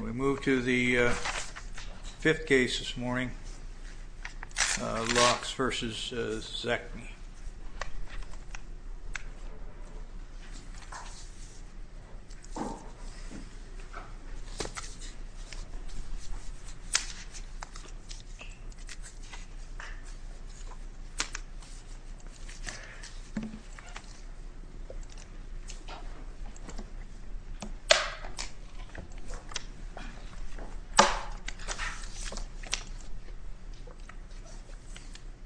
We move to the fifth case this morning, Laux v. Zatecky.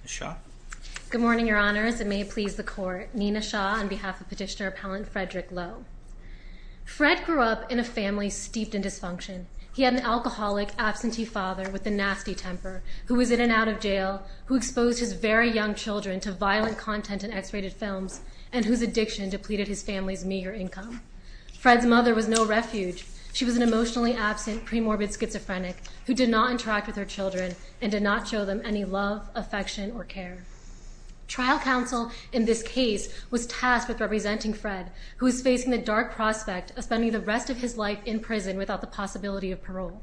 Ms. Shah? Good morning, Your Honors. It may please the Court. Nina Shah on behalf of Petitioner Appellant Frederick Laux. Fred grew up in a family steeped in dysfunction. He had an alcoholic, absentee father with a nasty temper, who was in and out of jail, who exposed his very young children to violent content in X-rated films, and whose addiction depleted his family's meager income. Fred's mother was no refuge. She was an emotionally absent, premorbid schizophrenic who did not interact with her children and did not show them any love, affection, or care. Trial counsel in this case was tasked with representing Fred, who was facing the dark prospect of spending the rest of his life in prison without the possibility of parole.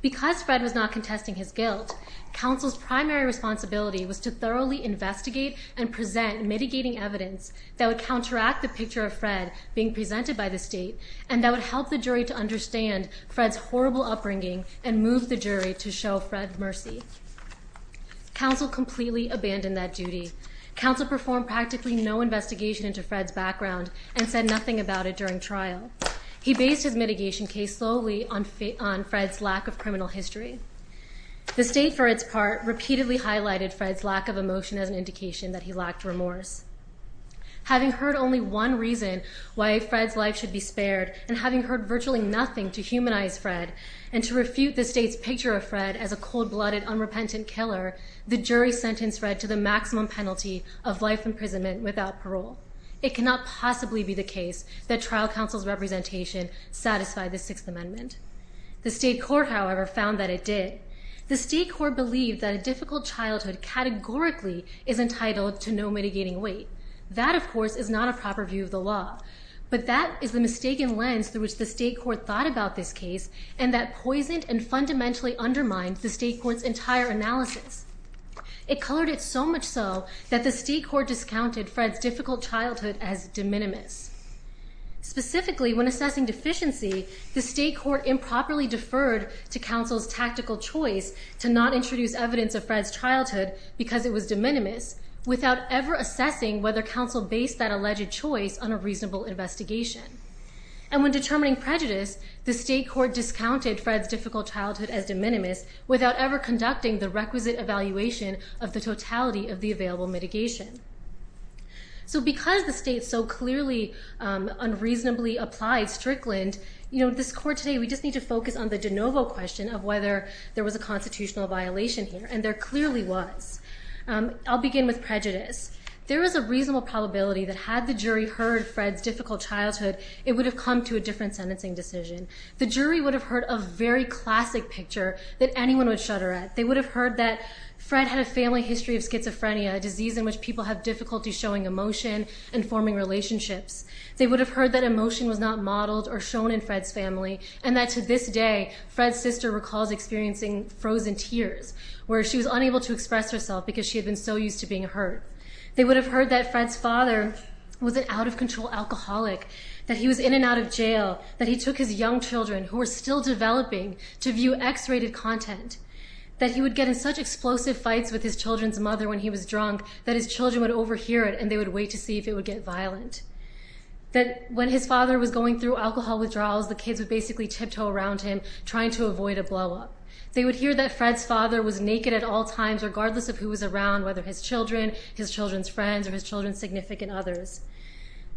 Because Fred was not contesting his guilt, counsel's primary responsibility was to thoroughly investigate and present mitigating evidence that would counteract the picture of Fred being presented by the state and that would help the jury to understand Fred's horrible upbringing and move the jury to show Fred mercy. Counsel completely abandoned that duty. Counsel performed practically no investigation into Fred's background and said nothing about it during trial. He based his mitigation case solely on Fred's lack of criminal history. The state, for its part, repeatedly highlighted Fred's lack of emotion as an indication that he lacked remorse. Having heard only one reason why Fred's life should be spared and having heard virtually nothing to humanize Fred and to refute the state's picture of Fred as a cold-blooded, unrepentant killer, the jury sentenced Fred to the maximum penalty of life imprisonment without parole. It cannot possibly be the case that trial counsel's representation satisfied the Sixth Amendment. The state court, however, found that it did. The state court believed that a difficult childhood categorically is entitled to no mitigating weight. That, of course, is not a proper view of the law, but that is the mistaken lens through which the state court thought about this case and that poisoned and fundamentally undermined the state court's entire analysis. It colored it so much so that the state court discounted Fred's difficult childhood as de minimis. Specifically, when assessing deficiency, the state court improperly deferred to counsel's tactical choice to not introduce evidence of Fred's childhood because it was de minimis without ever assessing whether counsel based that alleged choice on a reasonable investigation. And when determining prejudice, the state court discounted Fred's difficult childhood as de minimis without ever conducting the requisite evaluation of the totality of the available mitigation. So because the state so clearly unreasonably applied Strickland, you know, this court today, we just need to focus on the de novo question of whether there was a constitutional violation here, and there clearly was. I'll begin with prejudice. There is a reasonable probability that had the jury heard Fred's difficult childhood, it would have come to a different sentencing decision. The jury would have heard a very classic picture that anyone would shudder at. They would have heard that Fred had a family history of schizophrenia, a disease in which people have difficulty showing emotion and forming relationships. They would have heard that emotion was not modeled or shown in Fred's family, and that to this day, Fred's sister recalls experiencing frozen tears, where she was unable to express herself because she had been so used to being hurt. They would have heard that Fred's father was an out-of-control alcoholic, that he was in and out of jail, that he took his young children, who were still developing, to view X-rated content, that he would get in such explosive fights with his children's mother when he was drunk that his children would overhear it, and they would wait to see if it would get violent. That when his father was going through alcohol withdrawals, the kids would basically tiptoe around him, trying to avoid a blowup. They would hear that Fred's father was naked at all times, regardless of who was around, whether his children, his children's friends, or his children's significant others.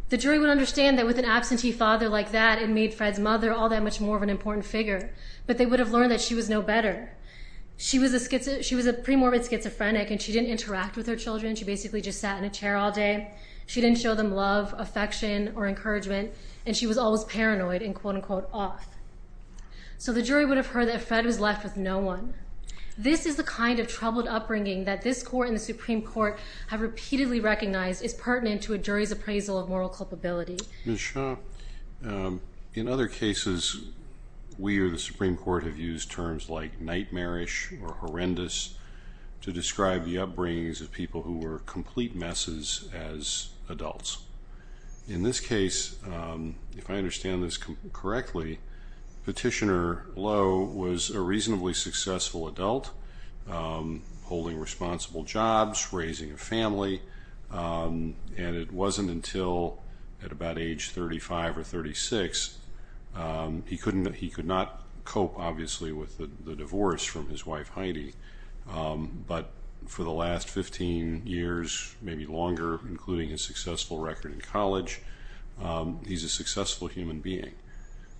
The jury would understand that with an absentee father like that, it made Fred's mother all that much more of an important figure, but they would have learned that she was no better. She was a premorbid schizophrenic, and she didn't interact with her children. She basically just sat in a chair all day. She didn't show them love, affection, or encouragement, and she was always paranoid and quote-unquote off. So the jury would have heard that Fred was left with no one. This is the kind of troubled upbringing that this court and the Supreme Court have repeatedly recognized is pertinent to a jury's appraisal of moral culpability. Ms. Shah, in other cases, we or the Supreme Court have used terms like nightmarish or horrendous to describe the upbringings of people who were complete messes as adults. In this case, if I understand this correctly, Petitioner Lowe was a reasonably successful adult holding responsible jobs, raising a family, and it wasn't until at about age 35 or 36, he could not cope, obviously, with the divorce from his wife Heidi, but for the last 15 years, maybe longer, including his successful record in college, he's a successful human being.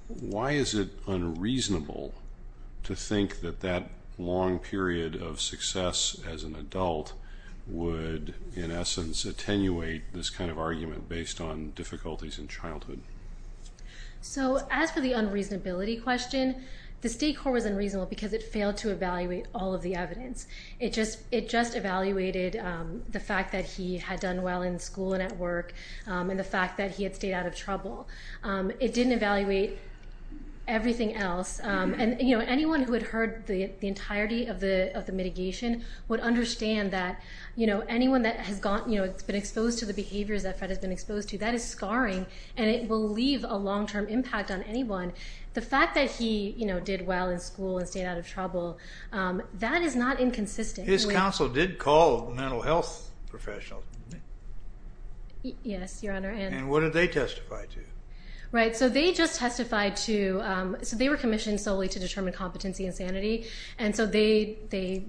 Why is it unreasonable to think that that long period of success as an adult would, in essence, attenuate this kind of argument based on difficulties in childhood? So as for the unreasonability question, the State Court was unreasonable because it failed to evaluate all of the evidence. It just evaluated the fact that he had done well in school and at work, and the fact that he had stayed out of trouble. It didn't evaluate everything else, and anyone who had heard the entirety of the mitigation would understand that anyone that has been exposed to the behaviors that Fred has been exposed to, that is scarring, and it will leave a long-term impact on anyone. The fact that he did well in school and stayed out of trouble, that is not inconsistent. His counsel did call mental health professionals, didn't they? Yes, Your Honor. And what did they testify to? Right. So they just testified to, so they were commissioned solely to determine competency and sanity, and so they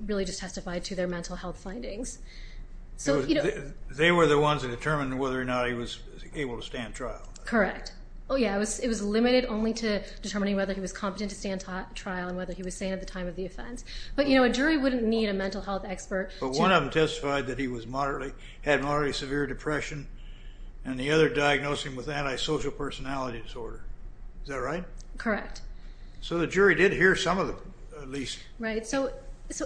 really just testified to their mental health findings. They were the ones that determined whether or not he was able to stand trial. Correct. Oh, yeah, it was limited only to determining whether he was competent to stand trial and whether he was sane at the time of the offense, but you know, a jury wouldn't need a mental health expert to... But one of them testified that he had moderately severe depression, and the other diagnosed him with antisocial personality disorder. Is that right? Correct. So the jury did hear some of the, at least... Right, so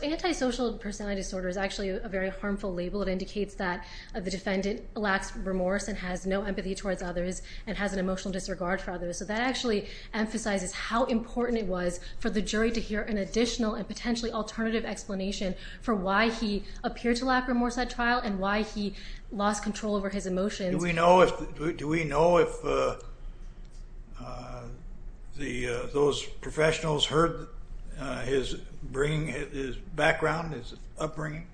antisocial personality disorder is actually a very harmful label. It indicates that the defendant lacks remorse and has no empathy towards others and has an emotional disregard for others. So that actually emphasizes how important it was for the jury to hear an additional and potentially alternative explanation for why he appeared to lack remorse at trial and why he lost control over his emotions. Do we know if those professionals heard his background, his upbringing?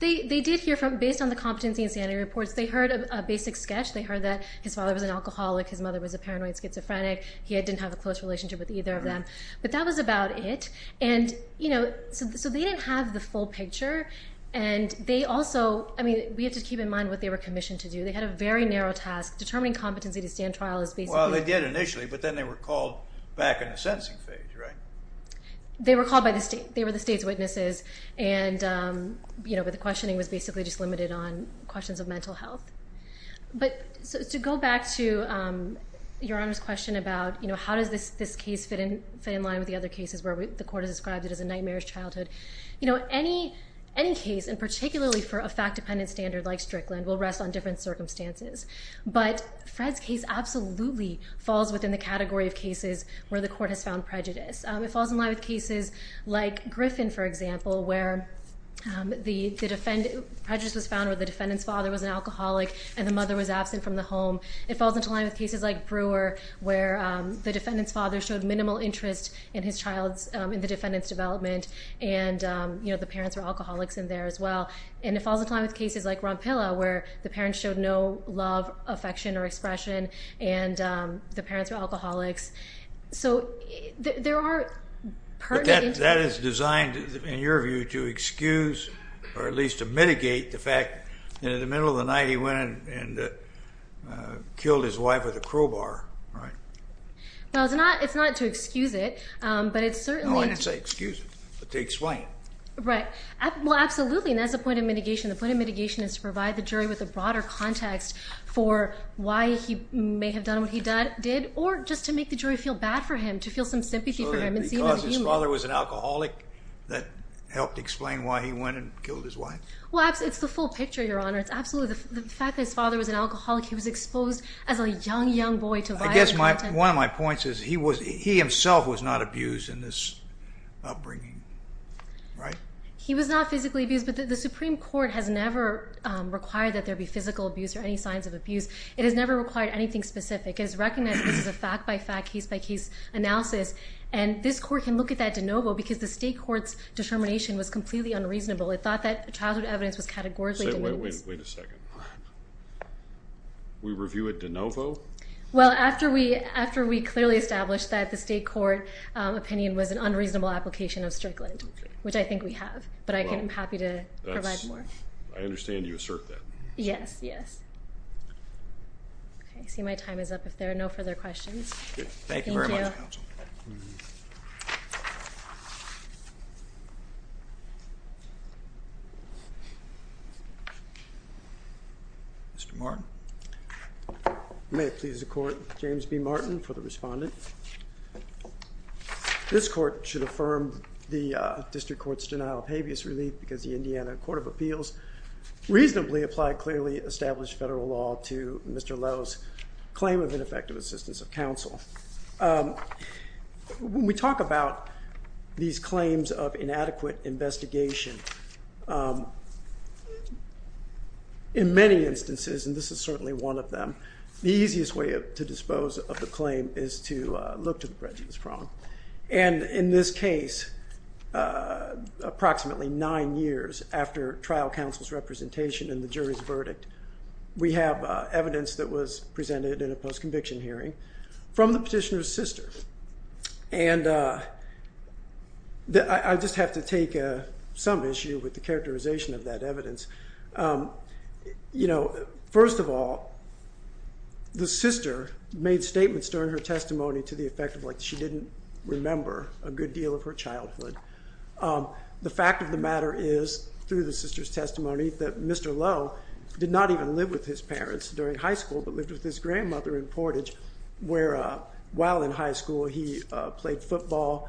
They did hear from, based on the competency and sanity reports, they heard a basic sketch. They heard that his father was an alcoholic, his mother was a paranoid schizophrenic, he didn't have a close relationship with either of them, but that was about it. And you know, so they didn't have the full picture, and they also, I mean, we have to keep in mind what they were commissioned to do. They had a very narrow task. Determining competency to stand trial is basically... Well, they did initially, but then they were called back in the sentencing phase, right? They were called by the state. They were the state's witnesses, but the questioning was basically just limited on questions of mental health. But to go back to Your Honor's question about, you know, how does this case fit in line with the other cases where the court has described it as a nightmarish childhood? You know, any case, and particularly for a fact-dependent standard like Strickland, will rest on different circumstances. But Fred's case absolutely falls within the category of cases where the court has found prejudice. It falls in line with cases like Griffin, for example, where prejudice was found where the defendant's father was an alcoholic and the mother was absent from the home. It falls into line with cases like Brewer, where the defendant's father showed minimal interest in the defendant's development, and, you know, the parents were alcoholics in there as well. And it falls into line with cases like Rompilla, where the parents showed no love, affection, or expression, and the parents were alcoholics. So there are pertinent... And that is designed, in your view, to excuse, or at least to mitigate the fact that in the middle of the night, he went and killed his wife with a crowbar, right? Well, it's not to excuse it, but it's certainly... No, I didn't say excuse it, but to explain. Right. Well, absolutely, and that's the point of mitigation. The point of mitigation is to provide the jury with a broader context for why he may have done what he did, or just to make the jury feel bad for him, to feel some sympathy for him and see him as a human. So the fact that his father was an alcoholic that helped explain why he went and killed his wife? Well, it's the full picture, Your Honor. It's absolutely... The fact that his father was an alcoholic, he was exposed as a young, young boy to violent content... I guess one of my points is he himself was not abused in this upbringing, right? He was not physically abused, but the Supreme Court has never required that there be physical abuse or any signs of abuse. It has never required anything specific. It has recognized this as a fact-by-fact, case-by-case analysis, and this Court can look at that de novo because the State Court's determination was completely unreasonable. It thought that childhood evidence was categorically diminished. Wait a second. We review it de novo? Well, after we clearly established that the State Court opinion was an unreasonable application of Strickland, which I think we have, but I'm happy to provide more. I understand you assert that. Yes, yes. Okay, I see my time is up. If there are no further questions... Thank you very much, Counsel. Mr. Martin? May it please the Court, James B. Martin for the Respondent. This Court should affirm the District Court's denial of habeas relief because the Indiana Court of Appeals reasonably applied clearly established federal law to Mr. Lowe's claim of ineffective assistance of counsel. When we talk about these claims of inadequate investigation, in many instances, and this is certainly one of them, the easiest way to dispose of the claim is to look to the prejudice prong. And in this case, approximately nine years after trial counsel's representation and the jury's verdict, we have evidence that was presented in a post-conviction hearing. From the petitioner's sister. And I just have to take some issue with the characterization of that evidence. You know, first of all, the sister made statements during her testimony to the effect of like she didn't remember a good deal of her childhood. The fact of the matter is, through the sister's testimony, that Mr. Lowe did not even live with his parents during high school but lived with his grandmother in Portage where while in high school he played football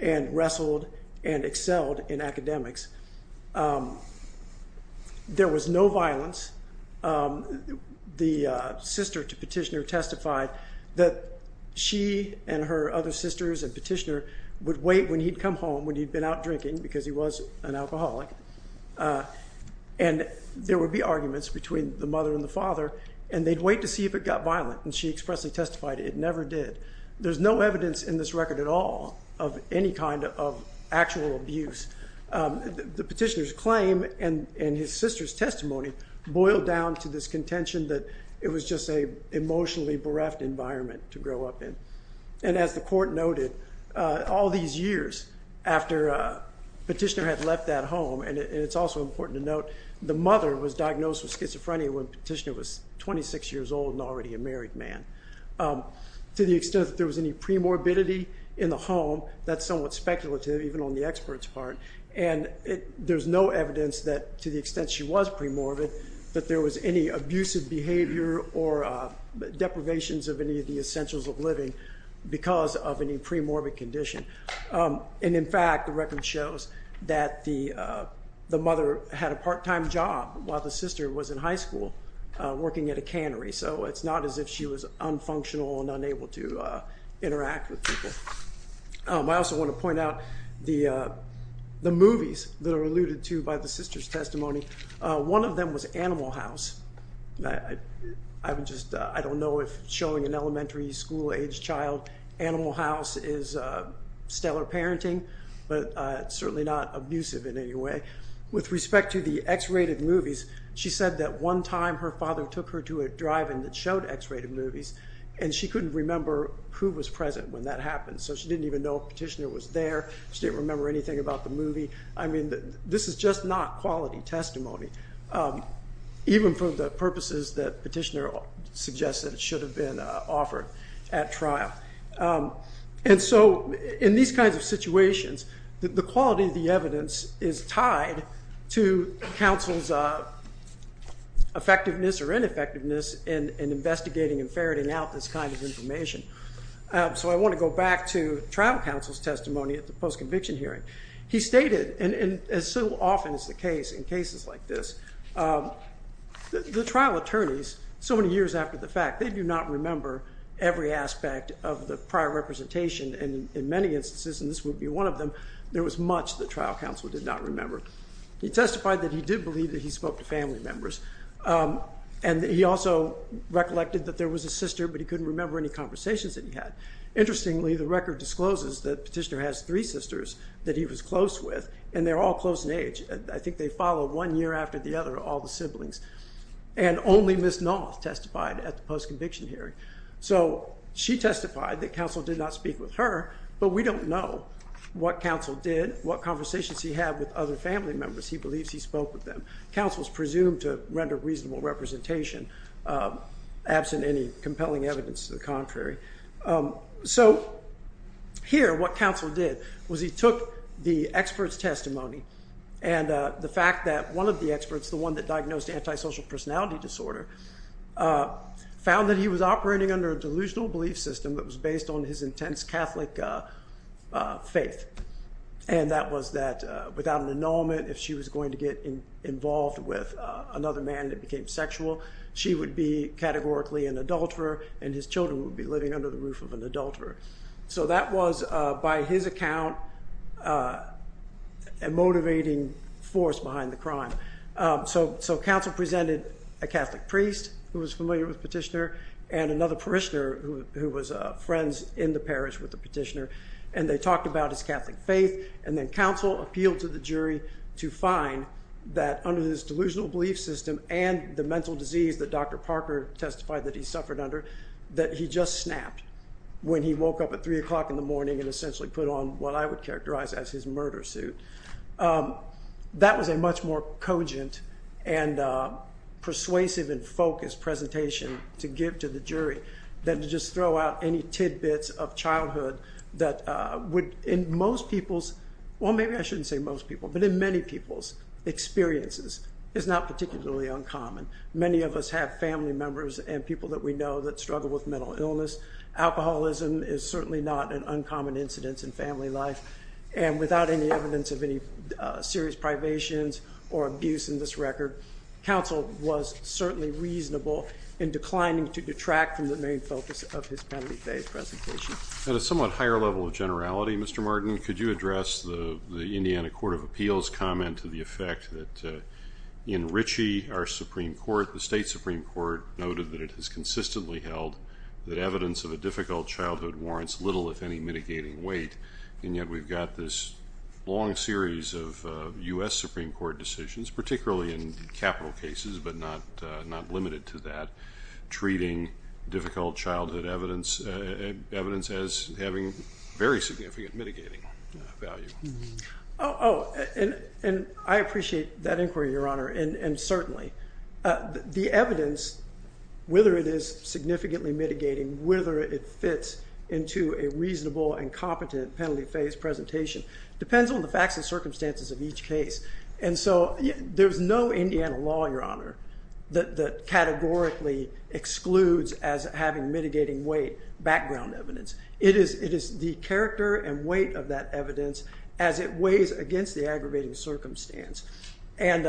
and wrestled and excelled in academics. There was no violence. The sister to petitioner testified that she and her other sisters and petitioner would wait when he'd come home when he'd been out drinking because he was an alcoholic. And there would be arguments between the mother and the father and they'd wait to see if it got violent. And she expressly testified it never did. There's no evidence in this record at all of any kind of actual abuse. The petitioner's claim and his sister's testimony boiled down to this contention that it was just a emotionally bereft environment to grow up in. And as the court noted, all these years after petitioner had left that home, and it's also important to note, the mother was diagnosed with schizophrenia when petitioner was 26 years old and already a married man. To the extent that there was any premorbidity in the home, that's somewhat speculative even on the expert's part. And there's no evidence that to the extent she was premorbid that there was any abusive behavior or deprivations of any of the essentials of living because of any premorbid condition. And in fact, the record shows that the mother had a part-time job while the sister was in high school working at a cannery. So it's not as if she was unfunctional and unable to interact with people. I also want to point out the movies that are alluded to by the sister's testimony. One of them was Animal House. I don't know if showing an elementary school-aged child Animal House is stellar parenting, but it's certainly not abusive in any way. With respect to the X-rated movies, she said that one time her father took her to a drive-in that showed X-rated movies, and she couldn't remember who was present when that happened. So she didn't even know if petitioner was there. She didn't remember anything about the movie. I mean, this is just not quality testimony, even for the purposes that petitioner suggested it should have been offered at trial. And so in these kinds of situations, the quality of the evidence is tied to counsel's effectiveness or ineffectiveness in investigating and ferreting out this kind of information. So I want to go back to trial counsel's testimony at the post-conviction hearing. He stated, and so often is the case in cases like this, the trial attorneys, so many years after the fact, they do not remember every aspect of the prior representation. And in many instances, and this would be one of them, there was much that trial counsel did not remember. He testified that he did believe that he spoke to family members. And he also recollected that there was a sister, but he couldn't remember any conversations that he had. Interestingly, the record discloses that petitioner has three sisters that he was close with, and they're all close in age. I think they follow one year after the other, all the siblings. And only Ms. Knoth testified at the post-conviction hearing. So she testified that counsel did not speak with her, but we don't know what counsel did, what conversations he had with other family members. He believes he spoke with them. Counsel is presumed to render reasonable representation, absent any compelling evidence to the contrary. So here, what counsel did was he took the expert's testimony, and the fact that one of the experts, the one that diagnosed antisocial personality disorder, found that he was operating under a delusional belief system that was based on his intense Catholic faith. And that was that without an annulment, if she was going to get involved with another man that became sexual, she would be categorically an adulterer, and his children would be living under the roof of an adulterer. So that was, by his account, a motivating force behind the crime. So counsel presented a Catholic priest who was familiar with petitioner, and another parishioner who was friends in the parish with the petitioner, and they talked about his Catholic faith, and then counsel appealed to the jury to find that under this delusional belief system and the mental disease that Dr. Parker testified that he suffered under, that he just snapped when he woke up at 3 o'clock in the morning and essentially put on what I would characterize as his murder suit. That was a much more cogent and persuasive and focused presentation to give to the jury than to just throw out any tidbits of childhood that would, in most people's, well maybe I shouldn't say most people, but in many people's experiences, is not particularly uncommon. Many of us have family members and people that we know that struggle with mental illness. Alcoholism is certainly not an uncommon incidence in family life, and without any evidence of any serious privations or abuse in this record, counsel was certainly reasonable in declining to detract from the main focus of his penalty-based presentation. At a somewhat higher level of generality, Mr. Martin, could you address the Indiana Court of Appeals' comment to the effect that in Ritchie, our Supreme Court, the state Supreme Court, noted that it has consistently held that evidence of a difficult childhood warrants little, if any, mitigating weight, and yet we've got this long series of U.S. Supreme Court decisions, particularly in capital cases but not limited to that, treating difficult childhood evidence as having very significant mitigating value. Oh, and I appreciate that inquiry, Your Honor, and certainly. The evidence, whether it is significantly mitigating, whether it fits into a reasonable and competent penalty-based presentation, depends on the facts and circumstances of each case. And so there's no Indiana law, Your Honor, that categorically excludes as having mitigating weight background evidence. It is the character and weight of that evidence as it weighs against the aggravating circumstance. And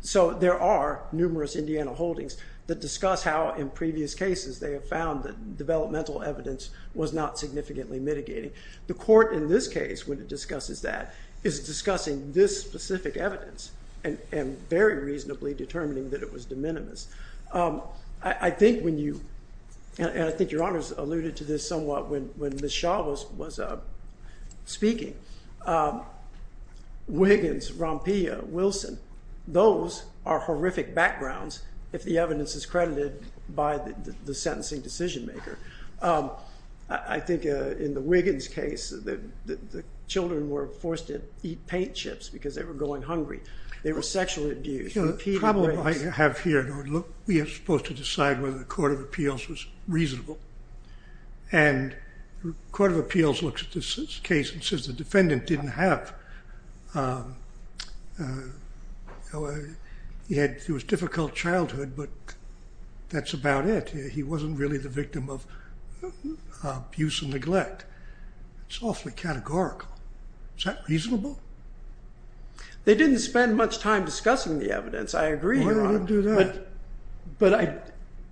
so there are numerous Indiana holdings that discuss how in previous cases they have found that developmental evidence was not significantly mitigating. The court in this case, when it discusses that, is discussing this specific evidence and very reasonably determining that it was de minimis. I think when you, and I think Your Honor has alluded to this somewhat when Ms. Shaw was speaking, Wiggins, Rompilla, Wilson, those are horrific backgrounds if the evidence is credited by the sentencing decision-maker. I think in the Wiggins case, the children were forced to eat paint chips because they were going hungry. They were sexually abused. The problem I have here, Your Honor, we are supposed to decide whether the court of appeals was reasonable. And the court of appeals looks at this case and says the defendant didn't have, he had, it was a difficult childhood, but that's about it. He wasn't really the victim of abuse and neglect. It's awfully categorical. Is that reasonable? They didn't spend much time discussing the evidence. I agree, Your Honor. Why didn't they do that? But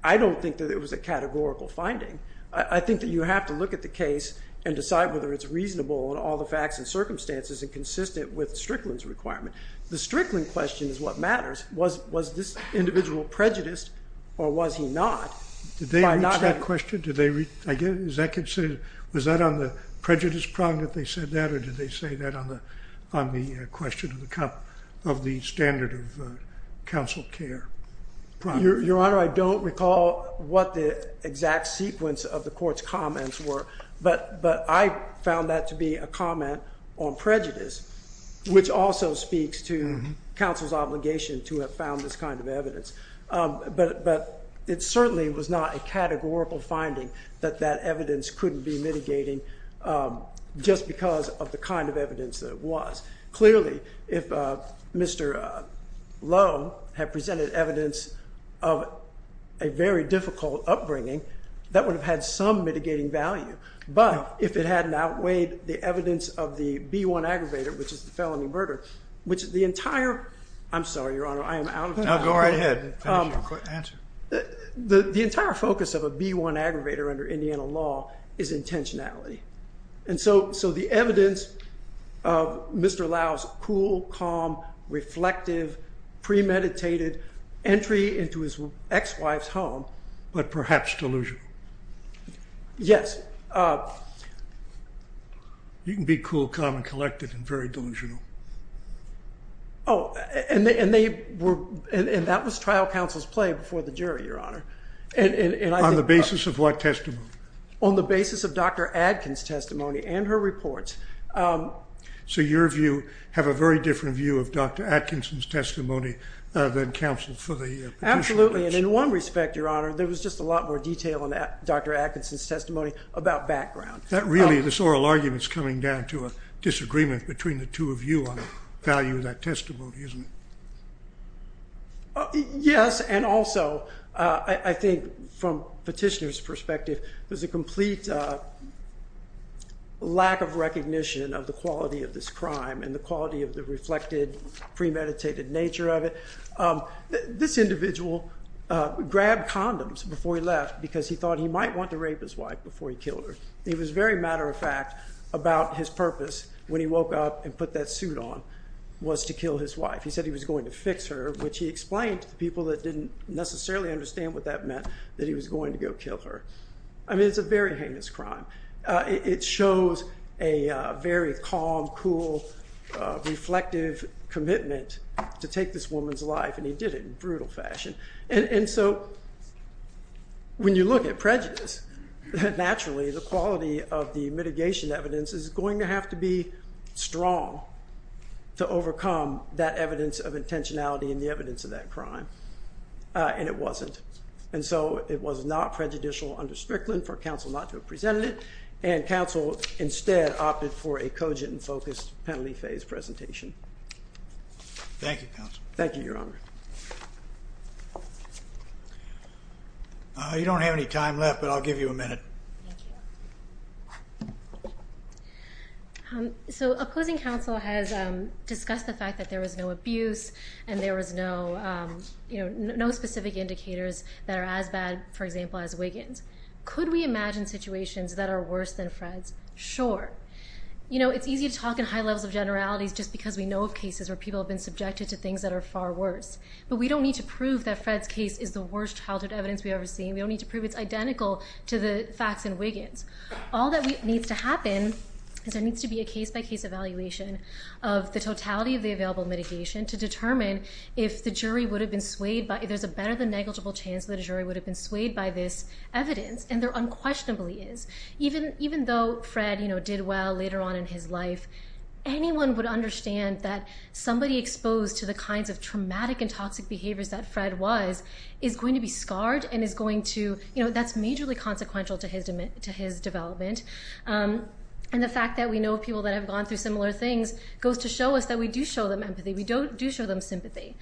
I don't think that it was a categorical finding. I think that you have to look at the case and decide whether it's reasonable in all the facts and circumstances and consistent with Strickland's requirement. The Strickland question is what matters. Was this individual prejudiced or was he not? Did they reach that question? Is that considered, was that on the prejudice prong that they said that or did they say that on the question of the standard of counsel care? Your Honor, I don't recall what the exact sequence of the court's comments were. But I found that to be a comment on prejudice, which also speaks to counsel's obligation to have found this kind of evidence. But it certainly was not a categorical finding that that evidence couldn't be mitigating just because of the kind of evidence that it was. Clearly, if Mr. Lowe had presented evidence of a very difficult upbringing, that would have had some mitigating value. But if it hadn't outweighed the evidence of the B-1 aggravator, which is the felony murder, which is the entire... I'm sorry, Your Honor, I am out of time. No, go right ahead. The entire focus of a B-1 aggravator under Indiana law is intentionality. And so the evidence of Mr. Lowe's cool, calm, reflective, premeditated entry into his ex-wife's home... But perhaps delusional. Yes. You can be cool, calm, and collected and very delusional. Oh, and that was trial counsel's play before the jury, Your Honor. On the basis of what testimony? On the basis of Dr. Atkins' testimony and her reports. So your view have a very different view of Dr. Atkinson's testimony than counsel's for the... Absolutely, and in one respect, Your Honor, there was just a lot more detail in Dr. Atkinson's testimony about background. Really, this oral argument is coming down to a disagreement between the two of you on the value of that testimony, isn't it? Yes, and also, I think from Petitioner's perspective, there's a complete lack of recognition of the quality of this crime and the quality of the reflected, premeditated nature of it. This individual grabbed condoms before he left because he thought he might want to rape his wife before he killed her. It was very matter-of-fact about his purpose when he woke up and put that suit on was to kill his wife. He said he was going to fix her, which he explained to people that didn't necessarily understand what that meant, that he was going to go kill her. I mean, it's a very heinous crime. It shows a very calm, cool, reflective commitment to take this woman's life, and he did it in brutal fashion. And so when you look at prejudice, naturally, the quality of the mitigation evidence is going to have to be strong to overcome that evidence of intentionality and the evidence of that crime, and it wasn't. And so it was not prejudicial under Strickland for counsel not to have presented it, and counsel instead opted for a cogent and focused penalty phase presentation. Thank you, counsel. Thank you, Your Honor. You don't have any time left, but I'll give you a minute. Thank you. So opposing counsel has discussed the fact that there was no abuse and there was no specific indicators that are as bad, for example, as Wiggins. Could we imagine situations that are worse than Fred's? Sure. You know, it's easy to talk in high levels of generalities just because we know of cases where people have been subjected to things that are far worse, but we don't need to prove that Fred's case is the worst childhood evidence we've ever seen. We don't need to prove it's identical to the facts in Wiggins. All that needs to happen is there needs to be a case-by-case evaluation of the totality of the available mitigation to determine if the jury would have been swayed by it. There's a better than negligible chance that a jury would have been swayed by this evidence, and there unquestionably is. Even though Fred did well later on in his life, anyone would understand that somebody exposed to the kinds of traumatic and toxic behaviors that Fred was is going to be scarred and that's majorly consequential to his development. And the fact that we know of people that have gone through similar things goes to show us that we do show them empathy. We do show them sympathy.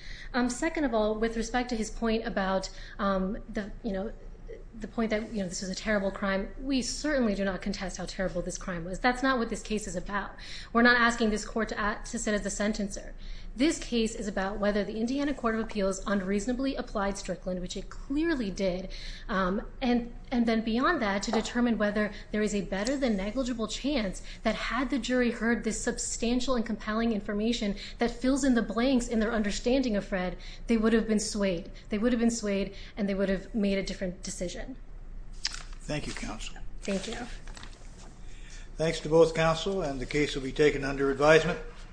Second of all, with respect to his point about the point that this was a terrible crime, we certainly do not contest how terrible this crime was. That's not what this case is about. We're not asking this court to sit as the sentencer. This case is about whether the Indiana Court of Appeals unreasonably applied Strickland, which it clearly did, and then beyond that to determine whether there is a better than negligible chance that had the jury heard this substantial and compelling information that fills in the blanks in their understanding of Fred, they would have been swayed. They would have been swayed, and they would have made a different decision. Thank you, counsel. Thank you. Thanks to both counsel, and the case will be taken under advisement.